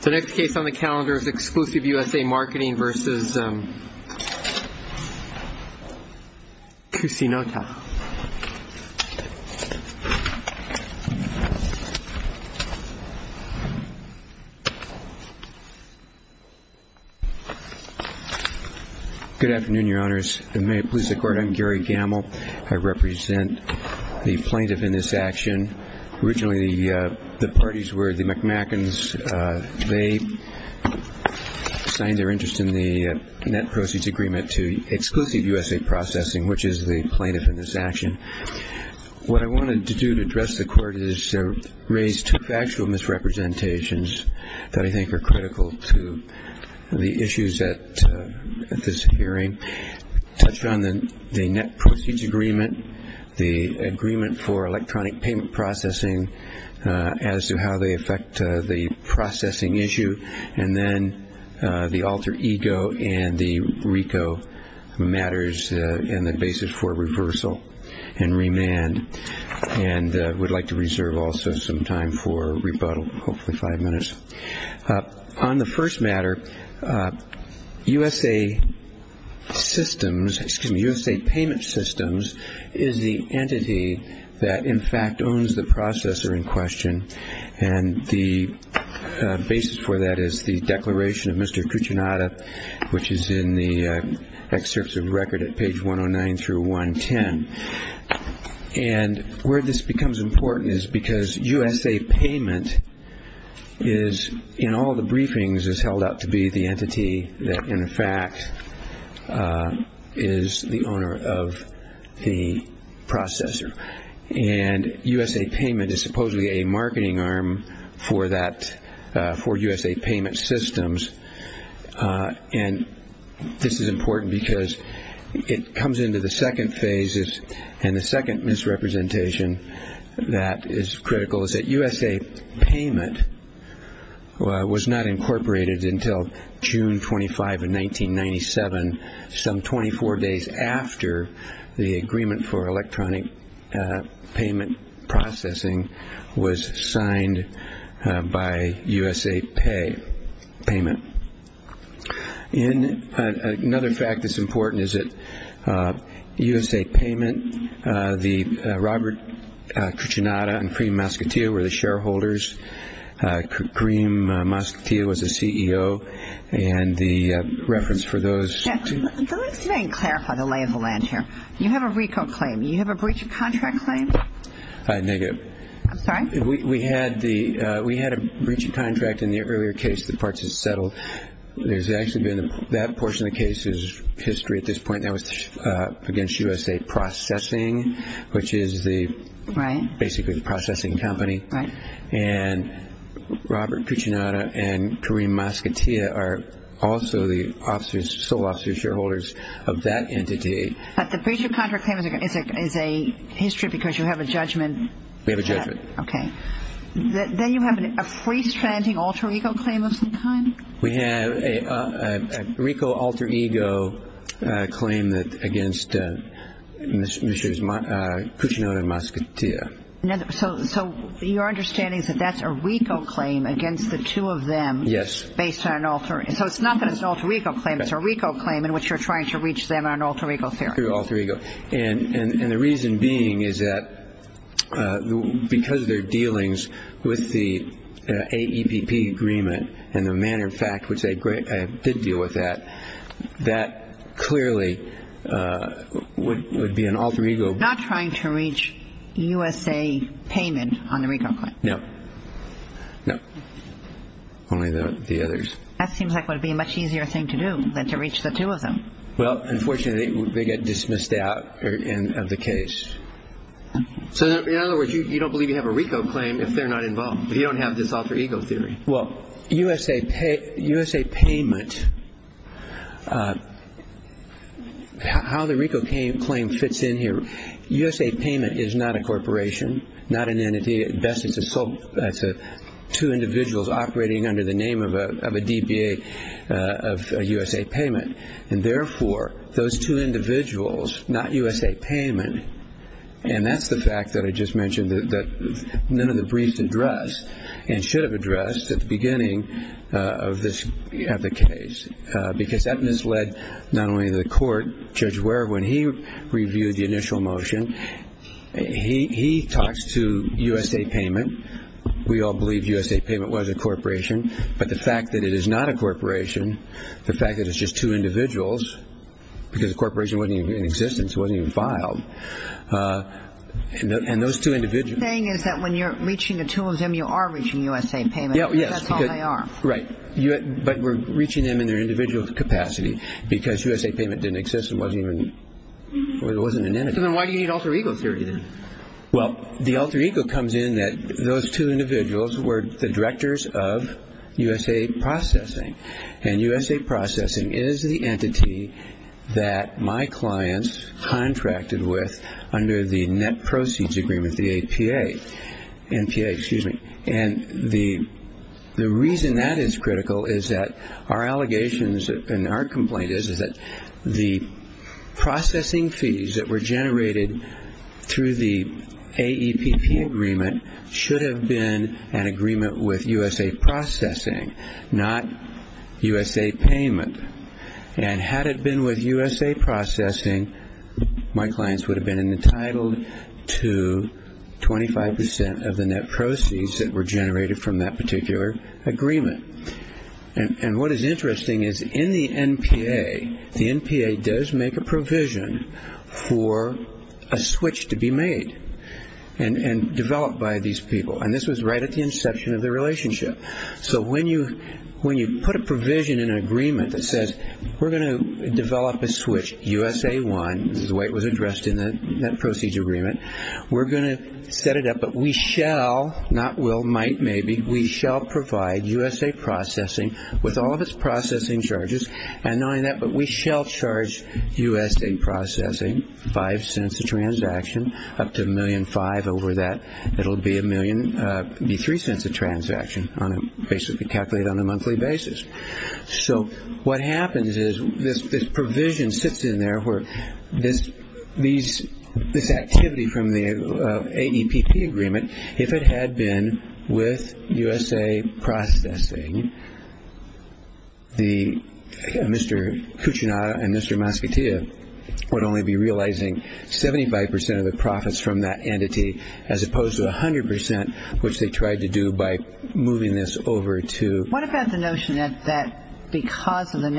The next case on the calendar is Exclusive USA Marketing versus Cusinota. Good afternoon, Your Honors. And may it please the Court, I'm Gary Gamell. I represent the plaintiff in this action. Originally the parties were the McMackins. They signed their interest in the net proceeds agreement to Exclusive USA Processing, which is the plaintiff in this action. What I wanted to do to address the Court is to raise two factual misrepresentations that I think are critical to the issues at this hearing. Touched on the net proceeds agreement, the agreement for electronic payment processing as to how they affect the processing issue, and then the alter ego and the RICO matters and the basis for reversal and remand. And I would like to reserve also some time for rebuttal, hopefully five minutes. On the first matter, USA Payment Systems is the entity that in fact owns the processor in question. And the basis for that is the declaration of Mr. Kuchinada, which is in the excerpts of record at page 109-110. And where this becomes important is because USA Payment is in all the briefings is held out to be the entity that in fact is the owner of the processor. And USA Payment is supposedly a marketing arm for USA Payment Systems. And this is important because it comes into the second phase and the second misrepresentation that is critical is that USA Payment was not incorporated until June 25, 1997, some 24 days after the agreement for electronic payment processing was signed by USA Payment. And another fact that's important is that USA Payment, the Robert Kuchinada and Kareem Mascottia were the shareholders. Kareem Mascottia was the CEO. And the reference for those to – Let me clarify the lay of the land here. You have a RICO claim. You have a breach of contract claim? Negative. I'm sorry? We had a breach of contract in the earlier case. The parts had settled. There's actually been – that portion of the case is history at this point. That was against USA Processing, which is the – Right. Basically the processing company. Right. And Robert Kuchinada and Kareem Mascottia are also the sole officer shareholders of that entity. But the breach of contract claim is a history because you have a judgment? We have a judgment. Okay. Then you have a freestanding alter ego claim of some kind? We have a RICO alter ego claim against Mr. Kuchinada and Mascottia. So your understanding is that that's a RICO claim against the two of them? Yes. Based on an alter – so it's not that it's an alter ego claim. It's a RICO claim in which you're trying to reach them on alter ego theory. And the reason being is that because of their dealings with the AEPP agreement and the manner of fact which they did deal with that, that clearly would be an alter ego. Not trying to reach USA payment on the RICO claim? No. No. Only the others. That seems like it would be a much easier thing to do than to reach the two of them. Well, unfortunately, they get dismissed out of the case. So in other words, you don't believe you have a RICO claim if they're not involved, if you don't have this alter ego theory? Well, USA payment – how the RICO claim fits in here, USA payment is not a corporation, not an entity. At best, it's two individuals operating under the name of a DBA of USA payment. And therefore, those two individuals, not USA payment, and that's the fact that I just mentioned that none of the briefs address and should have addressed at the beginning of the case. Because that misled not only the court, Judge Ware, when he reviewed the initial motion, he talks to USA payment. We all believe USA payment was a corporation, but the fact that it is not a corporation, the fact that it's just two individuals, because the corporation wasn't even in existence, it wasn't even filed, and those two individuals – What you're saying is that when you're reaching the two of them, you are reaching USA payment. Yes. That's all they are. Right. But we're reaching them in their individual capacity because USA payment didn't exist and wasn't an entity. Then why do you need alter ego theory then? Well, the alter ego comes in that those two individuals were the directors of USA processing. And USA processing is the entity that my clients contracted with under the net proceeds agreement, the APA. NPA, excuse me. And the reason that is critical is that our allegations and our complaint is that the processing fees that were generated through the AEPP agreement should have been an agreement with USA processing, not USA payment. And had it been with USA processing, my clients would have been entitled to 25% of the net proceeds that were generated from that particular agreement. And what is interesting is in the NPA, the NPA does make a provision for a switch to be made. And developed by these people. And this was right at the inception of the relationship. So when you put a provision in an agreement that says, we're going to develop a switch, USA one, this is the way it was addressed in the net proceeds agreement, we're going to set it up, but we shall, not will, might, maybe, we shall provide USA processing with all of its processing charges. And knowing that, but we shall charge USA processing, five cents a transaction, up to a million five over that. It will be a million, be three cents a transaction, basically calculated on a monthly basis. So what happens is this provision sits in there where this activity from the AEPP agreement, if it had been with USA processing, Mr. Kuchinada and Mr. Mascottia would only be realizing 75% of the profits from that entity, as opposed to 100%, which they tried to do by moving this over to. What about the notion that because of the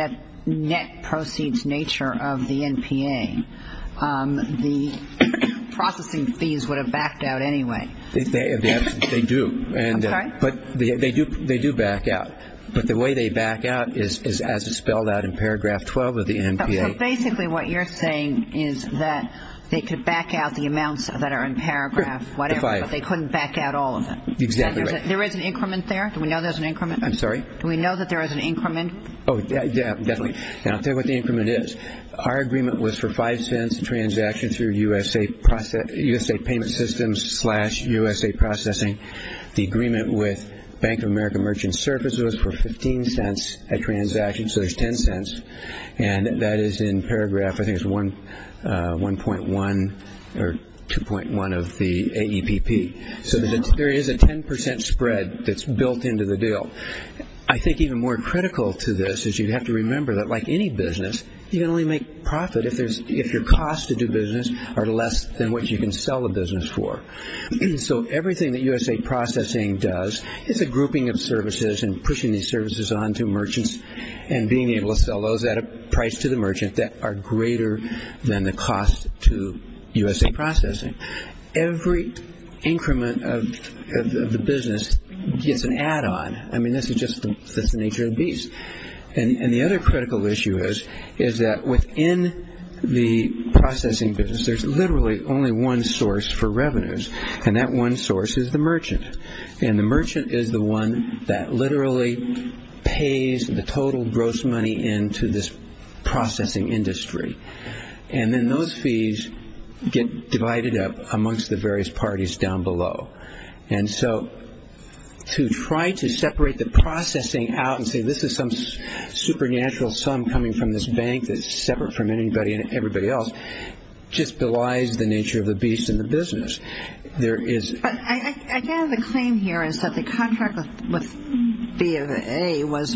net proceeds nature of the NPA, the processing fees would have backed out anyway? They do. I'm sorry? But they do back out. But the way they back out is as it's spelled out in paragraph 12 of the NPA. So basically what you're saying is that they could back out the amounts that are in paragraph whatever, but they couldn't back out all of them. Exactly right. There is an increment there? Do we know there's an increment? I'm sorry? Do we know that there is an increment? Oh, yeah, definitely. And I'll tell you what the increment is. Our agreement was for five cents a transaction through USA payment systems slash USA processing. The agreement with Bank of America Merchant Services was for 15 cents a transaction, so there's 10 cents, and that is in paragraph I think it's 1.1 or 2.1 of the AEPP. So there is a 10% spread that's built into the deal. I think even more critical to this is you have to remember that like any business, you can only make profit if your costs to do business are less than what you can sell a business for. So everything that USA processing does is a grouping of services and pushing these services on to merchants and being able to sell those at a price to the merchant that are greater than the cost to USA processing. Every increment of the business gets an add-on. I mean, this is just the nature of the beast. And the other critical issue is that within the processing business, there's literally only one source for revenues, and that one source is the merchant. And the merchant is the one that literally pays the total gross money into this processing industry. And then those fees get divided up amongst the various parties down below. And so to try to separate the processing out and say this is some supernatural sum coming from this bank that's separate from anybody and everybody else just belies the nature of the beast in the business. But again, the claim here is that the contract with BA was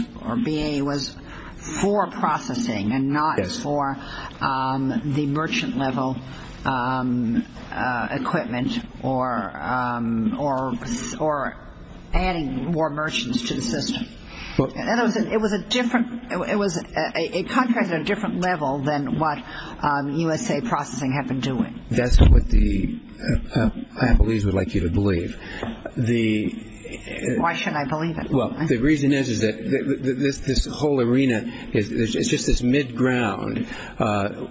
for processing and not for the merchant-level equipment or adding more merchants to the system. And it was a contract at a different level than what USA processing had been doing. That's what the unbelievers would like you to believe. Why shouldn't I believe it? Well, the reason is that this whole arena is just this mid-ground.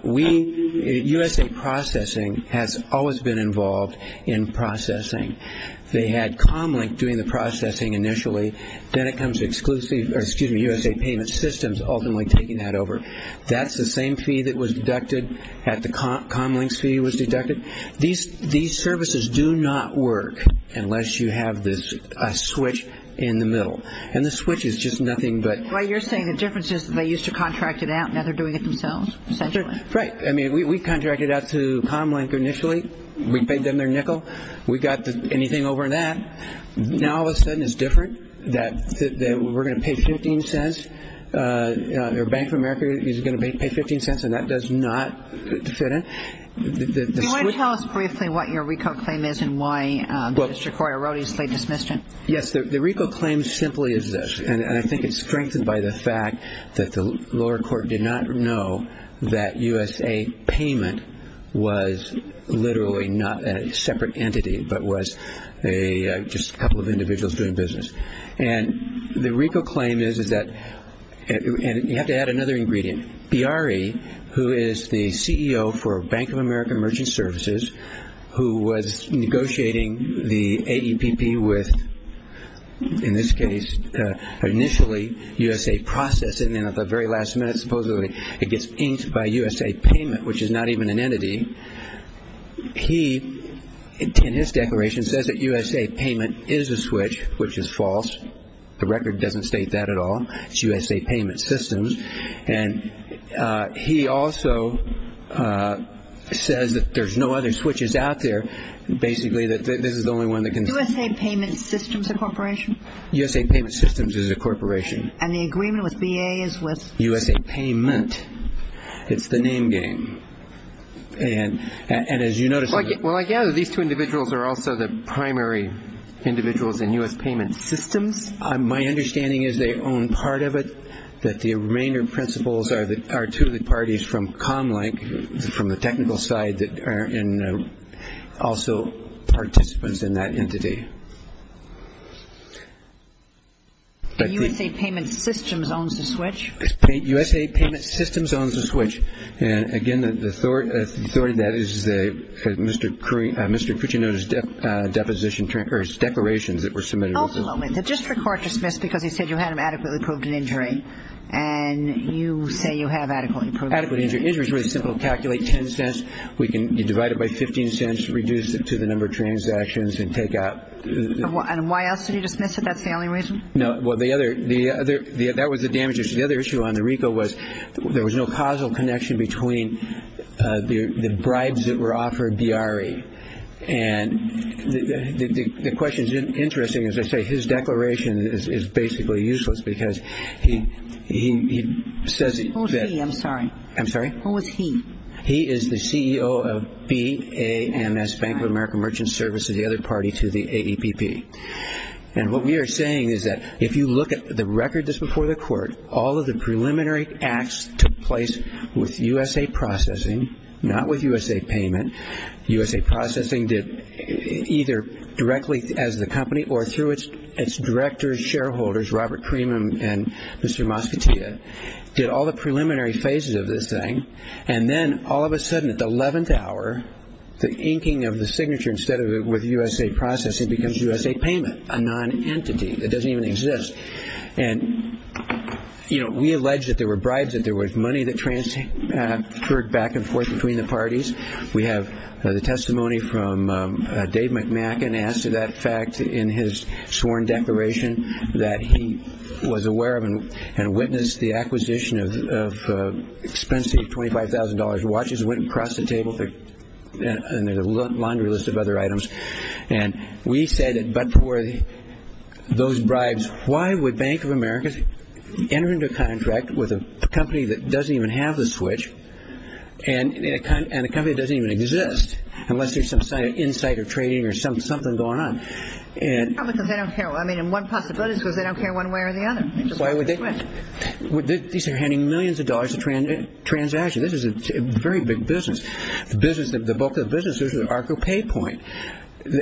USA processing has always been involved in processing. They had Comlink doing the processing initially. Then it comes to USA payment systems ultimately taking that over. That's the same fee that was deducted at the Comlink's fee was deducted. These services do not work unless you have this switch in the middle. And the switch is just nothing but... Well, you're saying the difference is that they used to contract it out, and now they're doing it themselves essentially. Right. I mean, we contracted out to Comlink initially. We paid them their nickel. We got anything over in that. Now all of a sudden it's different. We're going to pay $0.15. Bank of America is going to pay $0.15, and that does not fit in. Do you want to tell us briefly what your RICO claim is and why Mr. Corey erroneously dismissed it? Yes, the RICO claim simply is this, and I think it's strengthened by the fact that the lower court did not know that USA Payment was literally not a separate entity but was just a couple of individuals doing business. And the RICO claim is that, and you have to add another ingredient, BRE, who is the CEO for Bank of America Merchant Services, who was negotiating the AEPP with, in this case, initially USA Process, and then at the very last minute supposedly it gets inked by USA Payment, which is not even an entity. He, in his declaration, says that USA Payment is a switch, which is false. The record doesn't state that at all. It's USA Payment Systems. And he also says that there's no other switches out there, basically that this is the only one that can... USA Payment Systems is a corporation. And the agreement with BA is with... USA Payment. It's the name game. And as you notice... Well, I gather these two individuals are also the primary individuals in USA Payment Systems. My understanding is they own part of it, that the remainder principals are two of the parties from Comlink, from the technical side that are also participants in that entity. The USA Payment Systems owns the switch. USA Payment Systems owns the switch. And, again, the authority of that is Mr. Cuccino's depositions, or his declarations that were submitted. Hold on a moment. The district court dismissed because he said you had him adequately proved an injury. And you say you have adequately proved an injury. Adequately proved an injury is really simple. Calculate $0.10. We can divide it by $0.15, reduce it to the number of transactions, and take out. And why else did he dismiss it? That's the only reason? No. Well, the other... That was the damage issue. The other issue on the RICO was there was no causal connection between the bribes that were offered BRE. And the question is interesting. As I say, his declaration is basically useless because he says... Who's he? I'm sorry. I'm sorry? Who is he? He is the CEO of BAMS, Bank of America Merchant Services, the other party to the AEPP. And what we are saying is that if you look at the record that's before the court, all of the preliminary acts took place with USA Processing, not with USA Payment. USA Processing did either directly as the company or through its directors, shareholders, Robert Cream and Mr. Mosquitita, did all the preliminary phases of this thing. And then all of a sudden at the 11th hour, the inking of the signature, instead of with USA Processing, becomes USA Payment, a non-entity that doesn't even exist. And we allege that there were bribes, that there was money that transferred back and forth between the parties. We have the testimony from Dave McMacken as to that fact in his sworn declaration that he was aware of and witnessed the acquisition of expensive $25,000 watches, went across the table and there's a laundry list of other items. And we said that but for those bribes, why would Bank of America enter into a contract with a company that doesn't even have the switch and a company that doesn't even exist unless there's some insider trading or something going on? Probably because they don't care. I mean one possibility is because they don't care one way or the other. These are handing millions of dollars in transactions. This is a very big business. The bulk of the business is the ARCO pay point.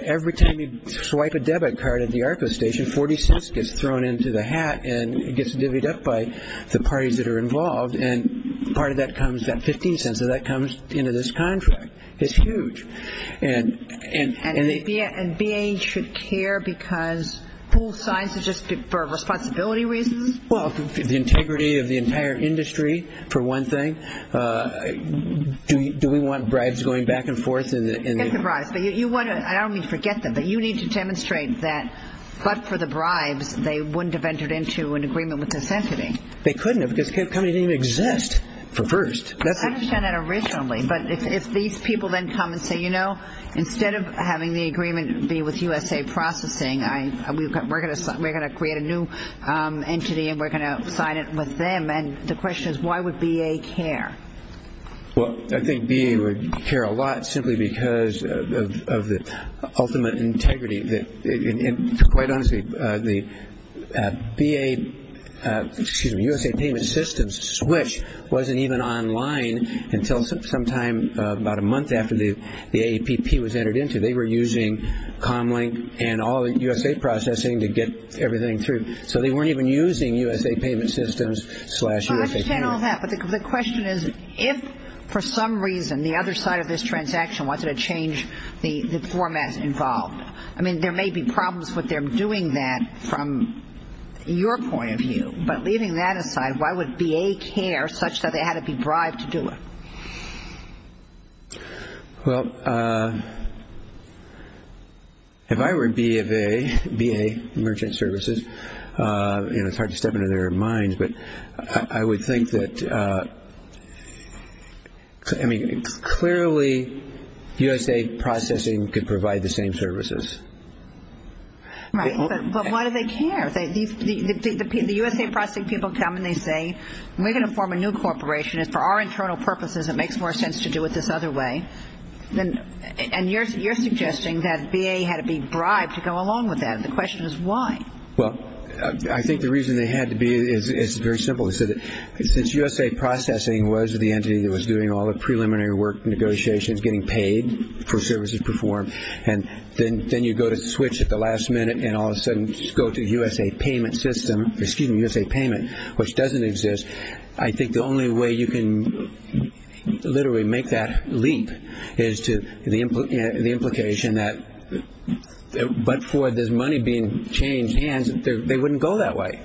Every time you swipe a debit card at the ARCO station, $0.40 gets thrown into the hat and gets divvied up by the parties that are involved and part of that comes, that $0.15 of that comes into this contract. It's huge. And BAE should care because full size is just for responsibility reasons? Well, the integrity of the entire industry for one thing. Do we want bribes going back and forth? Forget the bribes. I don't mean to forget them, but you need to demonstrate that but for the bribes, they wouldn't have entered into an agreement with this entity. They couldn't have because the company didn't even exist for first. I understand that originally, but if these people then come and say, you know, instead of having the agreement be with USA Processing, we're going to create a new entity and we're going to sign it with them, and the question is why would BAE care? Well, I think BAE would care a lot simply because of the ultimate integrity. Quite honestly, the USA Payment Systems switch wasn't even online until sometime about a month after the AAPP was entered into it. They were using Comlink and all the USA Processing to get everything through, so they weren't even using USA Payment Systems slash USA Payment. I understand all that, but the question is, if for some reason the other side of this transaction wanted to change the formats involved, I mean, there may be problems with them doing that from your point of view, but leaving that aside, why would BAE care such that they had to be bribed to do it? Well, if I were BAE, merchant services, you know, it's hard to step into their minds, but I would think that, I mean, clearly USA Processing could provide the same services. Right, but why do they care? The USA Processing people come and they say, when we're going to form a new corporation, if for our internal purposes it makes more sense to do it this other way, and you're suggesting that BAE had to be bribed to go along with that. The question is why? Well, I think the reason they had to be is very simple. Since USA Processing was the entity that was doing all the preliminary work negotiations, getting paid for services performed, and then you go to switch at the last minute and all of a sudden go to the USA payment system, excuse me, USA payment, which doesn't exist, I think the only way you can literally make that leap is to the implication that, but for this money being changed hands, they wouldn't go that way.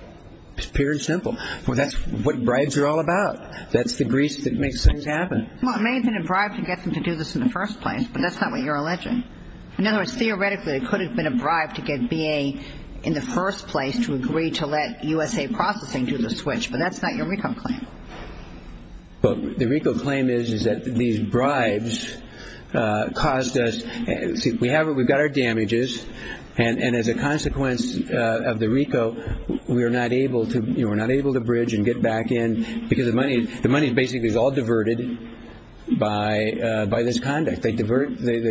It's pure and simple. Well, that's what bribes are all about. That's the grease that makes things happen. Well, it may have been a bribe to get them to do this in the first place, but that's not what you're alleging. In other words, theoretically, it could have been a bribe to get BAE in the first place to agree to let USA Processing do the switch, but that's not your RICO claim. The RICO claim is that these bribes caused us, we've got our damages, and as a consequence of the RICO we're not able to bridge and get back in because the money basically is all diverted by this conduct. They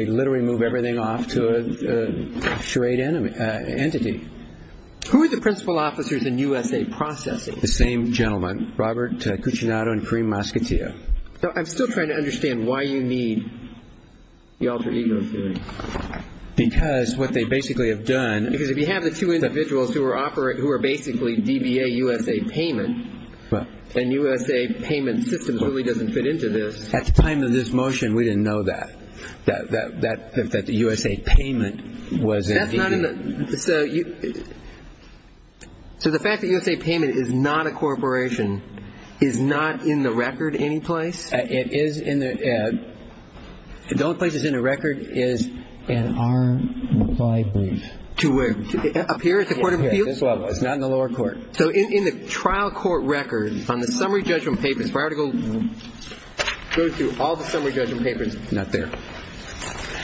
literally move everything off to a charade entity. Who are the principal officers in USA Processing? The same gentleman, Robert Cucinato and Karim Maskatia. I'm still trying to understand why you need the alter ego theory. Because what they basically have done, because if you have the two individuals who are basically DBA USA payment, and USA payment systems really doesn't fit into this. At the time of this motion we didn't know that, that the USA payment was a DBA. So the fact that USA payment is not a corporation is not in the record any place? It is in the, the only place it's in the record is in our reply brief. Up here at the Court of Appeals? It's not in the lower court. So in the trial court record on the summary judgment papers, if I were to go through all the summary judgment papers, it's not there.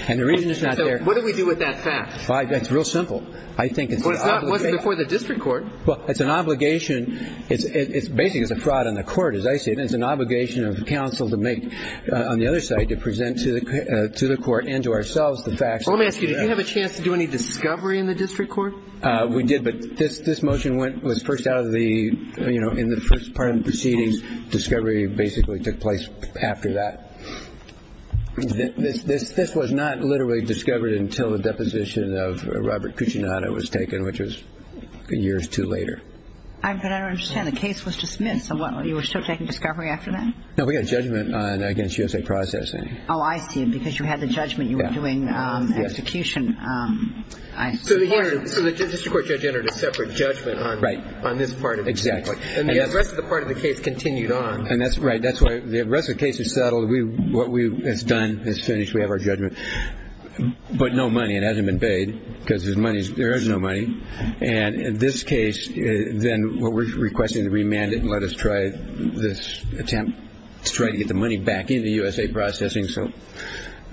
And the reason it's not there. So what do we do with that fact? It's real simple. It wasn't before the district court. Well, it's an obligation, basically it's a fraud on the court as I see it. It's an obligation of counsel to make, on the other side, to present to the court and to ourselves the facts. Let me ask you, did you have a chance to do any discovery in the district court? We did, but this motion was first out of the, you know, in the first part of the proceedings discovery basically took place after that. This was not literally discovered until the deposition of Robert Cucinato was taken, which was years too later. But I don't understand. The case was dismissed. So what, you were still taking discovery after that? No, we got a judgment against USA processing. Oh, I see. Because you had the judgment you were doing execution. So the district court judge entered a separate judgment on this part of the case. Exactly. And the rest of the part of the case continued on. And that's right. That's why the rest of the case is settled. What we have done is finished. We have our judgment. But no money. It hasn't been paid because there is no money. And in this case, then what we're requesting is to remand it and let us try this attempt to try to get the money back into USA processing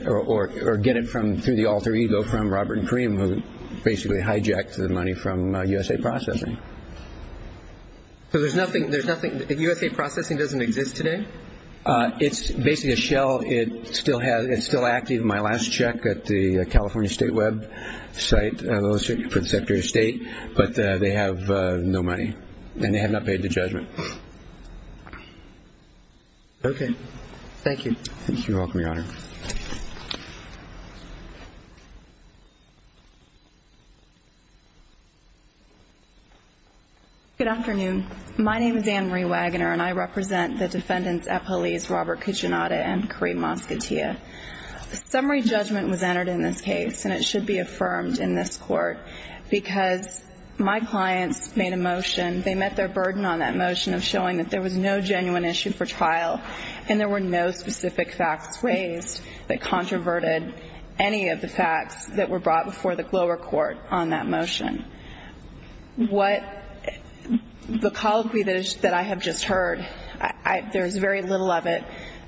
or get it through the alter ego from Robert and Karim, who basically hijacked the money from USA processing. So there's nothing. USA processing doesn't exist today? It's basically a shell. It's still active. My last check at the California State Web site for the Secretary of State. But they have no money. And they have not paid the judgment. Okay. Thank you. Thank you. You're welcome, Your Honor. Good afternoon. My name is Ann Marie Wagoner, and I represent the defendants at police Robert Cucinotta and Karim Mosquettea. A summary judgment was entered in this case, and it should be affirmed in this court because my clients made a motion. They met their burden on that motion of showing that there was no genuine issue for trial and there were no specific facts raised that controverted any of the facts that were brought before the lower court on that motion. What the colloquy that I have just heard, there is very little of it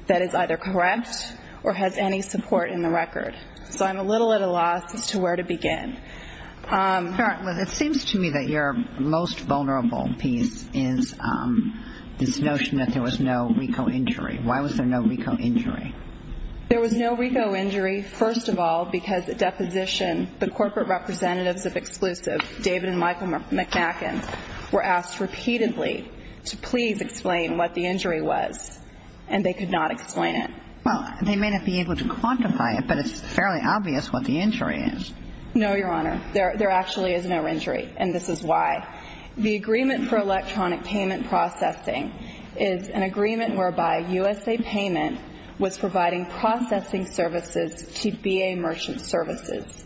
that is either correct or has any support in the record. So I'm a little at a loss as to where to begin. Your Honor, it seems to me that your most vulnerable piece is this notion that there was no RICO injury. Why was there no RICO injury? There was no RICO injury, first of all, because at deposition the corporate representatives of Exclusive, David and Michael McNaghan, were asked repeatedly to please explain what the injury was, and they could not explain it. Well, they may not be able to quantify it, but it's fairly obvious what the injury is. No, Your Honor. There actually is no injury, and this is why. The agreement for electronic payment processing is an agreement whereby USA Payment was providing processing services to BA Merchant Services.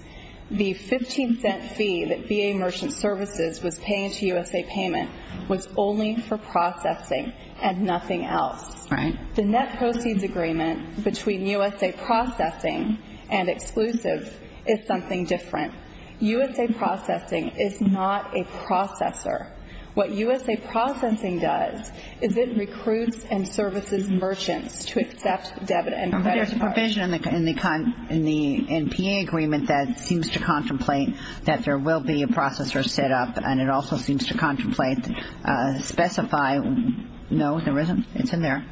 The $0.15 fee that BA Merchant Services was paying to USA Payment was only for processing and nothing else. The net proceeds agreement between USA Processing and Exclusive is something different. USA Processing is not a processor. What USA Processing does is it recruits and services merchants to accept debit and credit cards. But there's a provision in the NPA agreement that seems to contemplate that there will be a processor set up, and it also seems to contemplate, specify. No, there isn't. It's in there.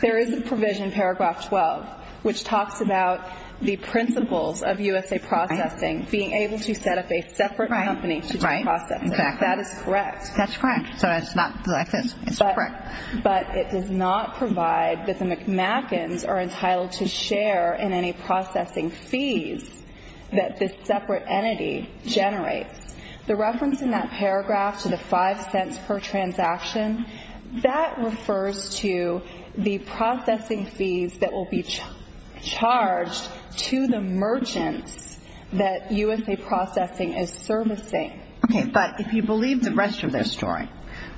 There is a provision in paragraph 12 which talks about the principles of USA Processing being able to set up a separate company to do processing. Right. Exactly. That is correct. That's correct. So it's not like this. It's correct. But it does not provide that the McMackens are entitled to share in any processing fees that this separate entity generates. The reference in that paragraph to the $0.05 per transaction, that refers to the processing fees that will be charged to the merchants that USA Processing is servicing. Okay. But if you believe the rest of their story,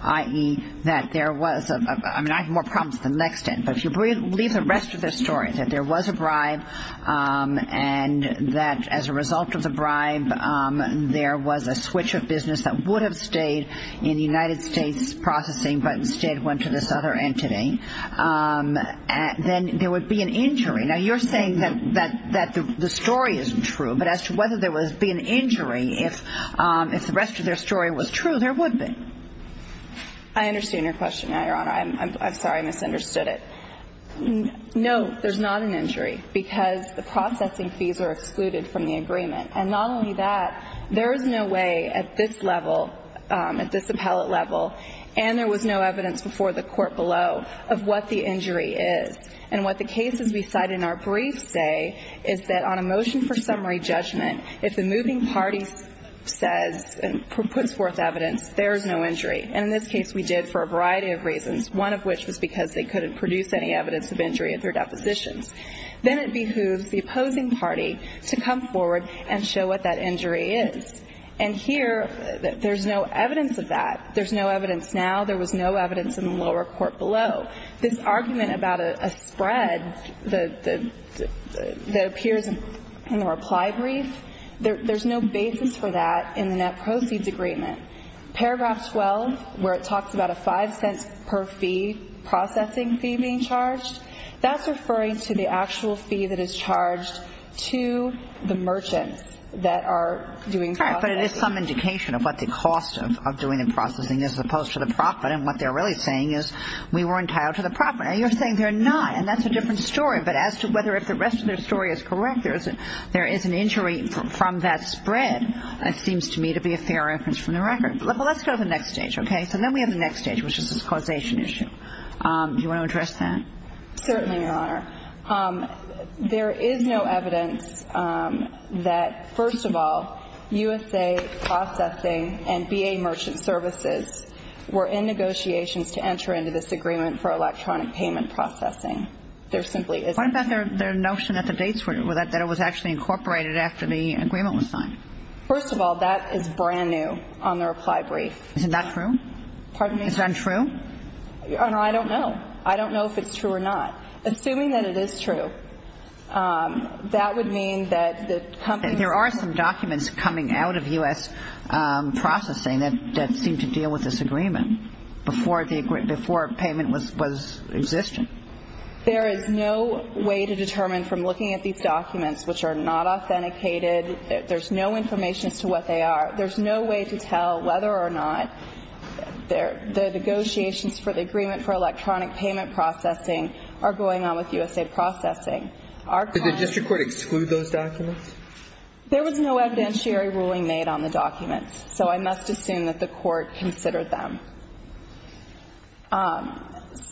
i.e., that there was a – I mean, I have more problems with the next sentence. But if you believe the rest of their story, that there was a bribe and that as a result of the bribe there was a switch of business that would have stayed in the United States Processing but instead went to this other entity, then there would be an injury. Now, you're saying that the story isn't true, but as to whether there would be an injury, if the rest of their story was true, there would be. I understand your question, Your Honor. I'm sorry I misunderstood it. No, there's not an injury because the processing fees are excluded from the agreement. And not only that, there is no way at this level, at this appellate level, and there was no evidence before the court below, of what the injury is. And what the cases we cite in our brief say is that on a motion for summary judgment, if the moving party says and puts forth evidence, there is no injury. One of which was because they couldn't produce any evidence of injury at their depositions. Then it behooves the opposing party to come forward and show what that injury is. And here, there's no evidence of that. There's no evidence now. There was no evidence in the lower court below. This argument about a spread that appears in the reply brief, there's no basis for that in the net proceeds agreement. Paragraph 12, where it talks about a $0.05 per fee processing fee being charged, that's referring to the actual fee that is charged to the merchants that are doing processing. All right, but it is some indication of what the cost of doing the processing is as opposed to the profit. And what they're really saying is we were entitled to the profit. Now, you're saying they're not, and that's a different story. But as to whether if the rest of their story is correct, there is an injury from that spread, that seems to me to be a fair reference from the record. But let's go to the next stage, okay? So then we have the next stage, which is this causation issue. Do you want to address that? Certainly, Your Honor. There is no evidence that, first of all, USA Processing and BA Merchant Services were in negotiations to enter into this agreement for electronic payment processing. There simply isn't. What about their notion that the dates were that it was actually incorporated after the agreement was signed? First of all, that is brand new on the reply brief. Isn't that true? Pardon me? Is that untrue? Your Honor, I don't know. I don't know if it's true or not. Assuming that it is true, that would mean that the company was There are some documents coming out of U.S. Processing that seem to deal with this agreement before payment was existing. There is no way to determine from looking at these documents, which are not authenticated. There's no information as to what they are. There's no way to tell whether or not the negotiations for the agreement for electronic payment processing are going on with USA Processing. Did the district court exclude those documents? There was no evidentiary ruling made on the documents, so I must assume that the court considered them.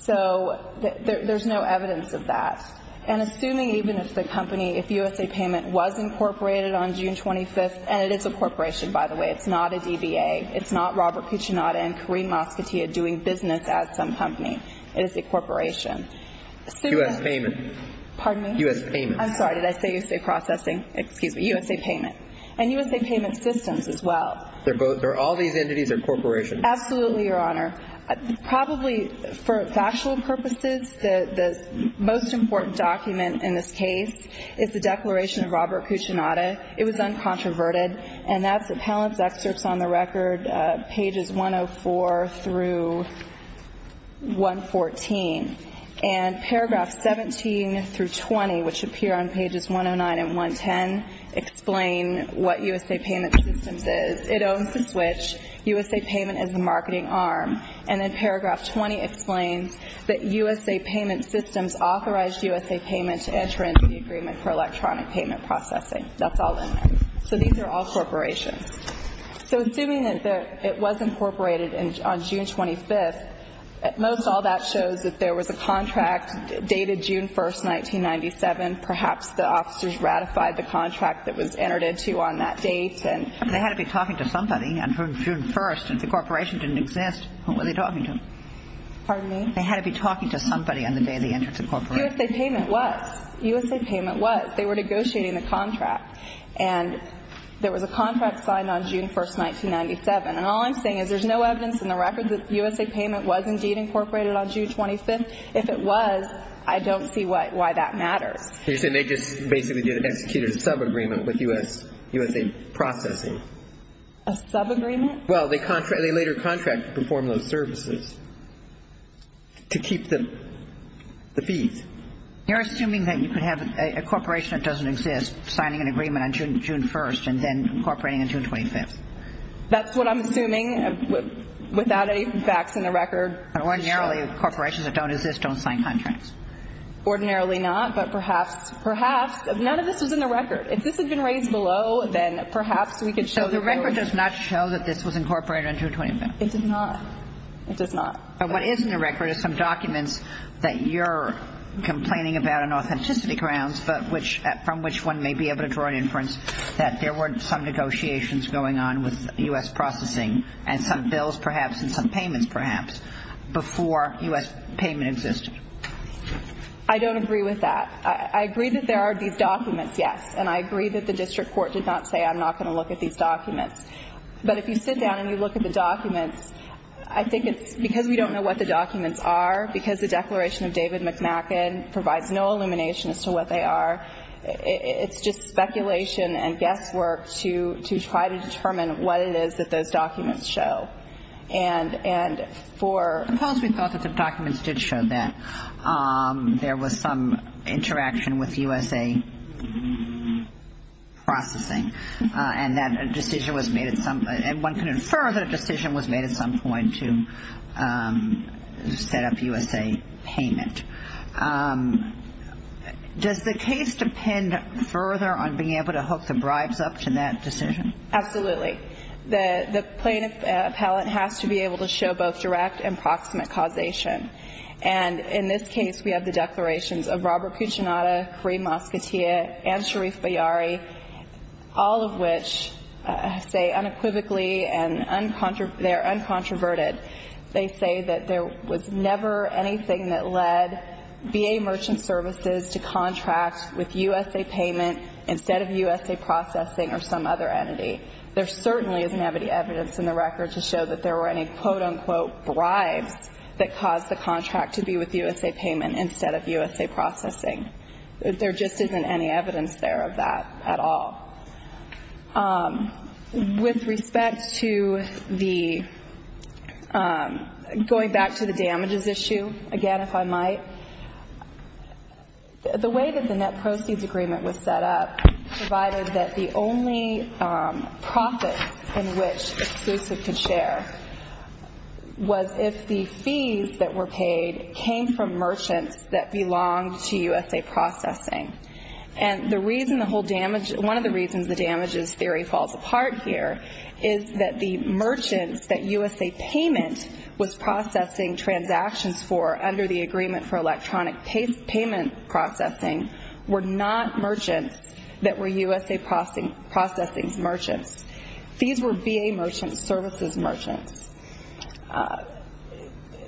So there's no evidence of that. And assuming even if the company, if USA Payment was incorporated on June 25th, and it is a corporation, by the way. It's not a DBA. It's not Robert Cucinotta and Kareem Mosquettea doing business as some company. It is a corporation. U.S. Payment. Pardon me? U.S. Payment. I'm sorry. Did I say USA Processing? Excuse me. USA Payment. And USA Payment Systems as well. Are all these entities or corporations? Absolutely, Your Honor. Probably for factual purposes, the most important document in this case is the declaration of Robert Cucinotta. It was uncontroverted, and that's the panelist's excerpts on the record, pages 104 through 114. And paragraphs 17 through 20, which appear on pages 109 and 110, explain what USA Payment Systems is. It owns the switch. USA Payment is the marketing arm. And then paragraph 20 explains that USA Payment Systems authorized USA Payment to enter into the agreement for electronic payment processing. That's all in there. So these are all corporations. So assuming that it was incorporated on June 25th, most all that shows that there was a contract dated June 1st, 1997. Perhaps the officers ratified the contract that was entered into on that date. They had to be talking to somebody on June 1st. If the corporation didn't exist, who were they talking to? Pardon me? They had to be talking to somebody on the day they entered the corporation. USA Payment was. USA Payment was. They were negotiating the contract. And there was a contract signed on June 1st, 1997. And all I'm saying is there's no evidence in the record that USA Payment was indeed incorporated on June 25th. If it was, I don't see why that matters. You're saying they just basically executed a subagreement with USA Processing. A subagreement? Well, they later contracted to perform those services to keep the fees. You're assuming that you could have a corporation that doesn't exist signing an agreement on June 1st and then incorporating on June 25th. That's what I'm assuming without any facts in the record. Ordinarily, corporations that don't exist don't sign contracts. Ordinarily not, but perhaps none of this was in the record. If this had been raised below, then perhaps we could show the record. So the record does not show that this was incorporated on June 25th? It does not. It does not. And what is in the record is some documents that you're complaining about on authenticity grounds, but from which one may be able to draw an inference that there were some negotiations going on with U.S. Processing and some bills perhaps and some payments perhaps before U.S. Payment existed. I don't agree with that. I agree that there are these documents, yes, and I agree that the district court did not say I'm not going to look at these documents. But if you sit down and you look at the documents, I think it's because we don't know what the documents are, because the Declaration of David McNaghan provides no illumination as to what they are. It's just speculation and guesswork to try to determine what it is that those documents show. And for – Suppose we thought that the documents did show that there was some interaction with U.S.A. Processing and that a decision was made at some point, and one can infer that a decision was made at some point to set up U.S.A. Payment. Does the case depend further on being able to hook the bribes up to that decision? Absolutely. The plaintiff appellate has to be able to show both direct and proximate causation. And in this case, we have the declarations of Robert Puccinato, Kareem Mosquitieh, and Sharif Bayari, all of which say unequivocally and they're uncontroverted. They say that there was never anything that led B.A. Merchant Services to contract with U.S.A. Payment instead of U.S.A. Processing or some other entity. There certainly isn't any evidence in the record to show that there were any, quote-unquote, bribes that caused the contract to be with U.S.A. Payment instead of U.S.A. Processing. There just isn't any evidence there of that at all. With respect to the going back to the damages issue, again, if I might, the way that the net proceeds agreement was set up provided that the only profit in which Exclusive could share was if the fees that were paid came from merchants that belonged to U.S.A. Processing. And one of the reasons the damages theory falls apart here is that the merchants that U.S.A. Payment was processing transactions for under the agreement for electronic payment processing were not merchants that were U.S.A. Processing's merchants. These were B.A. Merchant Services merchants.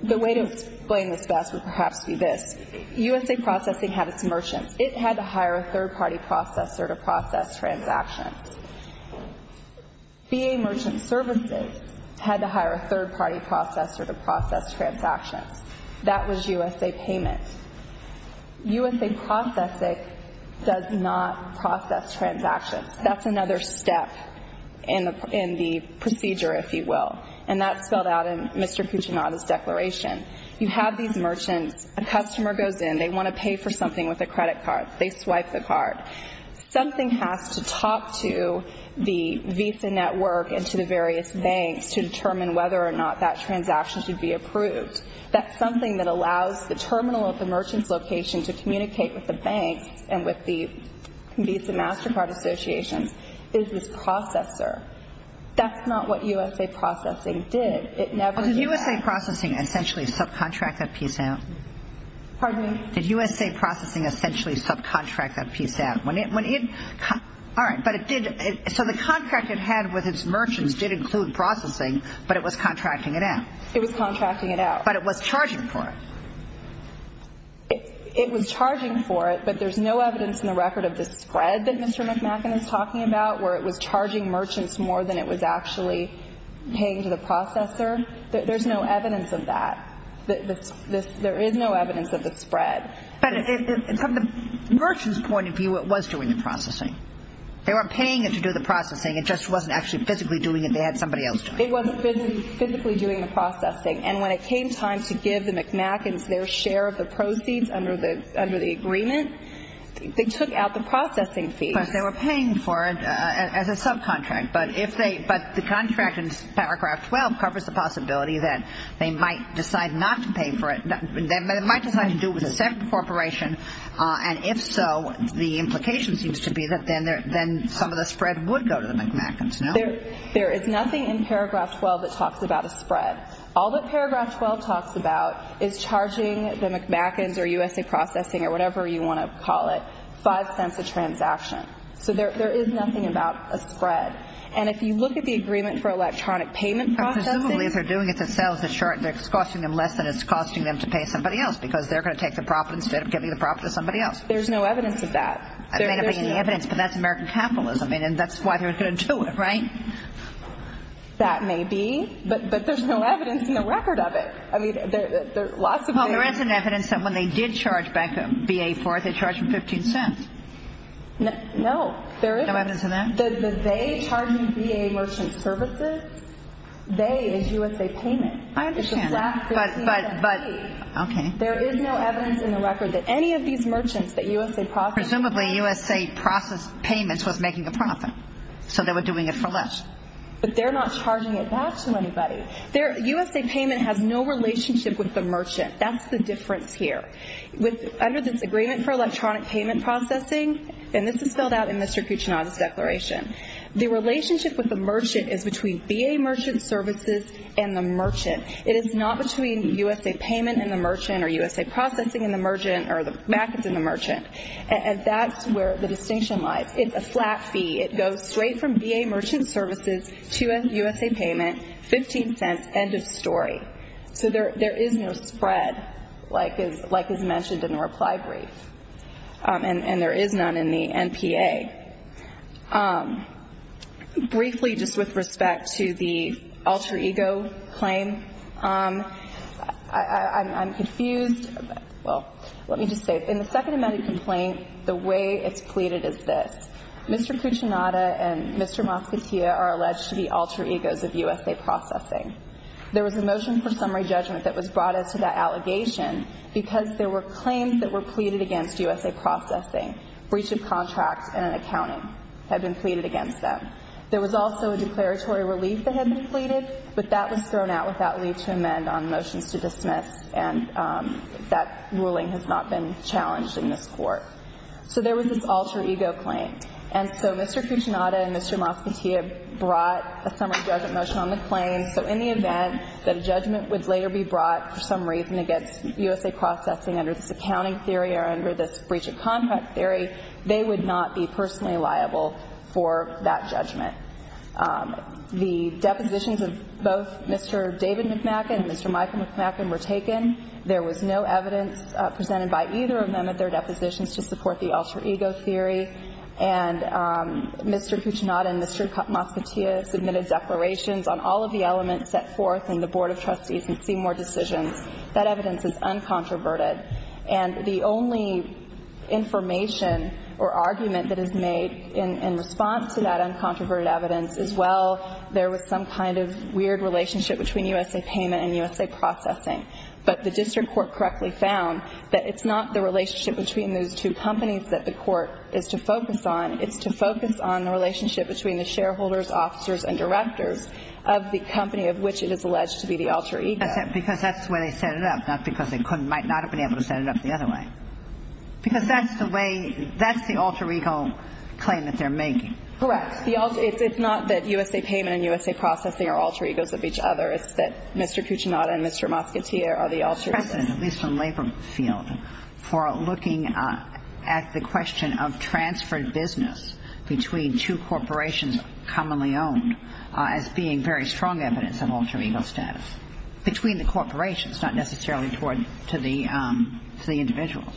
The way to explain this best would perhaps be this. It had to hire a third-party processor to process transactions. B.A. Merchant Services had to hire a third-party processor to process transactions. That was U.S.A. Payment. U.S.A. Processing does not process transactions. That's another step in the procedure, if you will, and that's spelled out in Mr. Puccinato's declaration. You have these merchants. A customer goes in. They want to pay for something with a credit card. They swipe the card. Something has to talk to the Visa network and to the various banks to determine whether or not that transaction should be approved. That's something that allows the terminal at the merchant's location to communicate with the banks and with the Visa MasterCard Associations is this processor. That's not what U.S.A. Processing did. Well, did U.S.A. Processing essentially subcontract that piece out? Pardon me? Did U.S.A. Processing essentially subcontract that piece out? All right, but it did. So the contract it had with its merchants did include processing, but it was contracting it out. It was contracting it out. But it was charging for it. It was charging for it, but there's no evidence in the record of the spread that Mr. McMacken is talking about where it was charging merchants more than it was actually paying to the processor. There's no evidence of that. There is no evidence of the spread. But from the merchant's point of view, it was doing the processing. They weren't paying it to do the processing. It just wasn't actually physically doing it. They had somebody else doing it. It wasn't physically doing the processing, and when it came time to give the McMackens their share of the proceeds under the agreement, they took out the processing fee. Of course, they were paying for it as a subcontract, but the contract in Paragraph 12 covers the possibility that they might decide not to pay for it. They might decide to do it with a separate corporation, and if so, the implication seems to be that then some of the spread would go to the McMackens. There is nothing in Paragraph 12 that talks about a spread. All that Paragraph 12 talks about is charging the McMackens or U.S.A. Processing or whatever you want to call it, five cents a transaction. So there is nothing about a spread. And if you look at the agreement for electronic payment processing. Presumably, if they're doing it themselves, it's costing them less than it's costing them to pay somebody else because they're going to take the profit instead of giving the profit to somebody else. There's no evidence of that. There may not be any evidence, but that's American capitalism, and that's why they were going to do it, right? That may be, but there's no evidence in the record of it. I mean, there are lots of things. Well, there is an evidence that when they did charge back a VA for it, they charged for 15 cents. No, there isn't. No evidence of that? The they charging VA merchant services, they is U.S.A. Payment. I understand, but okay. There is no evidence in the record that any of these merchants that U.S.A. Processing Presumably, U.S.A. Payments was making a profit, so they were doing it for less. But they're not charging it back to anybody. U.S.A. Payment has no relationship with the merchant. That's the difference here. Under this Agreement for Electronic Payment Processing, and this is spelled out in Mr. Kuchinada's declaration, the relationship with the merchant is between VA merchant services and the merchant. It is not between U.S.A. Payment and the merchant or U.S.A. Processing and the merchant or the mackets and the merchant. And that's where the distinction lies. It's a flat fee. It goes straight from VA merchant services to a U.S.A. Payment, 15 cents, end of story. So there is no spread, like is mentioned in the reply brief. And there is none in the NPA. Briefly, just with respect to the alter ego claim, I'm confused. Well, let me just say, in the second amount of complaint, the way it's pleaded is this. Mr. Kuchinada and Mr. Mascottia are alleged to be alter egos of U.S.A. Processing. There was a motion for summary judgment that was brought as to that allegation because there were claims that were pleaded against U.S.A. Processing. Breach of contract and an accounting had been pleaded against them. There was also a declaratory relief that had been pleaded, but that was thrown out without leave to amend on motions to dismiss, and that ruling has not been challenged in this court. So there was this alter ego claim. And so Mr. Kuchinada and Mr. Mascottia brought a summary judgment motion on the claim. So in the event that a judgment would later be brought for some reason against U.S.A. Processing under this accounting theory or under this breach of contract theory, they would not be personally liable for that judgment. The depositions of both Mr. David McMacken and Mr. Michael McMacken were taken. There was no evidence presented by either of them at their depositions to support the alter ego theory. And Mr. Kuchinada and Mr. Mascottia submitted declarations on all of the elements set forth in the Board of Trustees in Seymour decisions. That evidence is uncontroverted. And the only information or argument that is made in response to that uncontroverted evidence is, well, there was some kind of weird relationship between U.S.A. Payment and U.S.A. Processing. But the district court correctly found that it's not the relationship between those two companies that the court is to focus on. It's to focus on the relationship between the shareholders, officers, and directors of the company of which it is alleged to be the alter ego. Because that's the way they set it up, not because they might not have been able to set it up the other way. Because that's the way – that's the alter ego claim that they're making. Correct. It's not that U.S.A. Payment and U.S.A. Processing are alter egos of each other. It's that Mr. Cucinotta and Mr. Moscatia are the alter egos. The precedent, at least in the labor field, for looking at the question of transferred business between two corporations commonly owned as being very strong evidence of alter ego status. Between the corporations, not necessarily toward the individuals.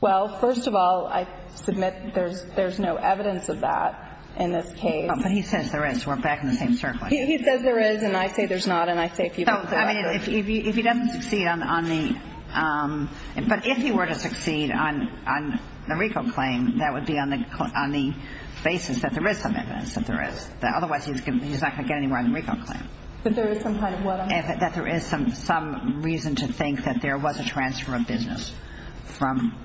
Well, first of all, I submit there's no evidence of that in this case. But he says there is. We're back in the same circle. He says there is. And I say there's not. And I say people – I mean, if he doesn't succeed on the – but if he were to succeed on the RICO claim, that would be on the basis that there is some evidence that there is. Otherwise, he's not going to get anywhere on the RICO claim. But there is some kind of – That there is some reason to think that there was a transfer of business from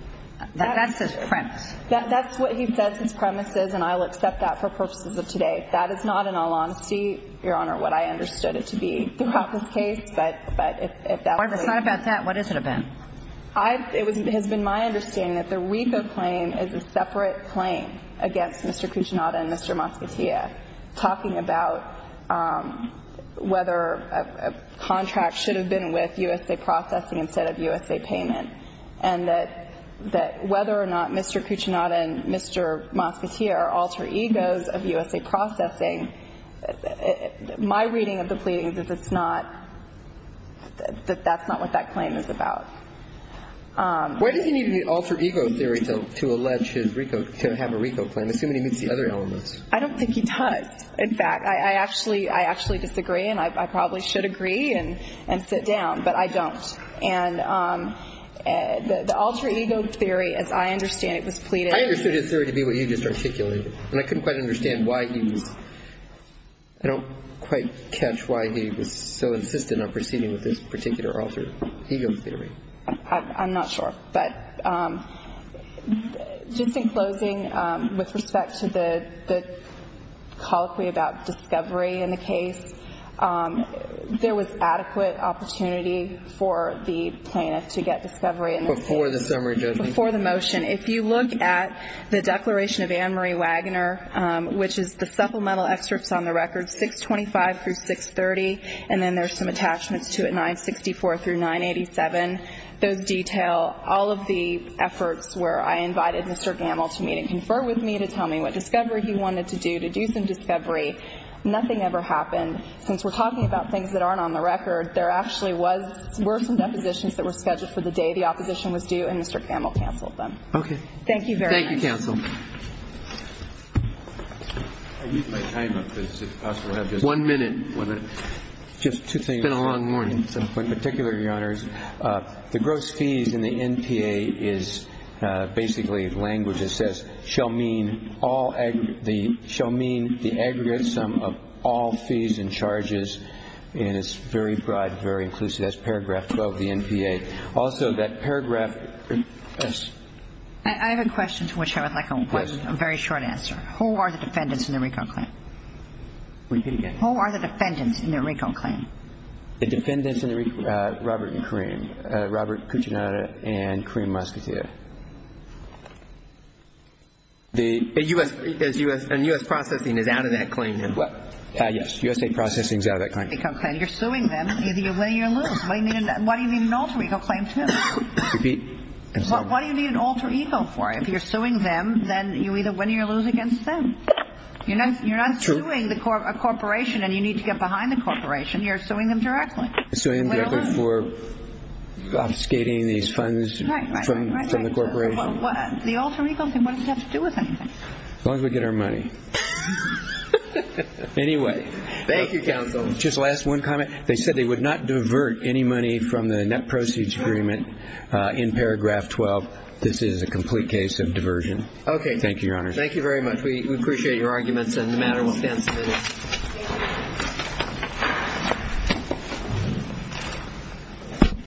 – that's his premise. That's what he says his premise is. And I will accept that for purposes of today. That is not, in all honesty, Your Honor, what I understood it to be throughout this case. But if that were the case – It's not about that. What is it about? It has been my understanding that the RICO claim is a separate claim against Mr. Cucinato and Mr. Moscatia talking about whether a contract should have been with USA Processing instead of USA Payment, and that whether or not Mr. Cucinato and Mr. Moscatia are alter egos of USA Processing, my reading of the pleading is that it's not – that that's not what that claim is about. Why does he need an alter ego theory to allege his RICO – to have a RICO claim, assuming he meets the other elements? I don't think he does. In fact, I actually – I actually disagree, and I probably should agree and sit down, but I don't. I understood his theory to be what you just articulated, and I couldn't quite understand why he was – I don't quite catch why he was so insistent on proceeding with this particular alter ego theory. I'm not sure. But just in closing, with respect to the colloquy about discovery in the case, there was adequate opportunity for the plaintiff to get discovery in this case. Before the summary judgment. Before the motion. If you look at the declaration of Ann Marie Wagner, which is the supplemental excerpts on the record, 625 through 630, and then there's some attachments to it, 964 through 987. Those detail all of the efforts where I invited Mr. Gamble to meet and confer with me to tell me what discovery he wanted to do, to do some discovery. Nothing ever happened. Since we're talking about things that aren't on the record, there actually was – were some depositions that were scheduled for the day the opposition was due, and Mr. Gamble canceled them. Okay. Thank you very much. Thank you, counsel. I'll use my time up, if it's possible. One minute. One minute. Just two things. It's been a long morning. In particular, Your Honors, the gross fees in the NPA is basically language that says shall mean all – shall mean the aggregate sum of all fees and charges, and it's very broad, very inclusive. That's paragraph 12 of the NPA. Also, that paragraph – I have a question to which I would like a very short answer. Who are the defendants in the RICO claim? Repeat again. Who are the defendants in the RICO claim? The defendants in the – Robert and Kareem. Robert Kuchinada and Kareem Mosquitieh. The – And U.S. processing is out of that claim, then? Yes. U.S. processing is out of that claim. You're suing them. Either you win or you lose. Why do you need an alter ego claim, too? Repeat. What do you need an alter ego for? If you're suing them, then you either win or you lose against them. You're not suing a corporation and you need to get behind the corporation. You're suing them directly. Suing them directly for obfuscating these funds from the corporation. Right, right, right. The alter ego thing, what does it have to do with anything? As long as we get our money. Anyway. Thank you, counsel. Just last one comment. They said they would not divert any money from the net proceeds agreement in paragraph 12. This is a complete case of diversion. Thank you, Your Honor. Thank you very much. We appreciate your arguments and the matter will stand submitted.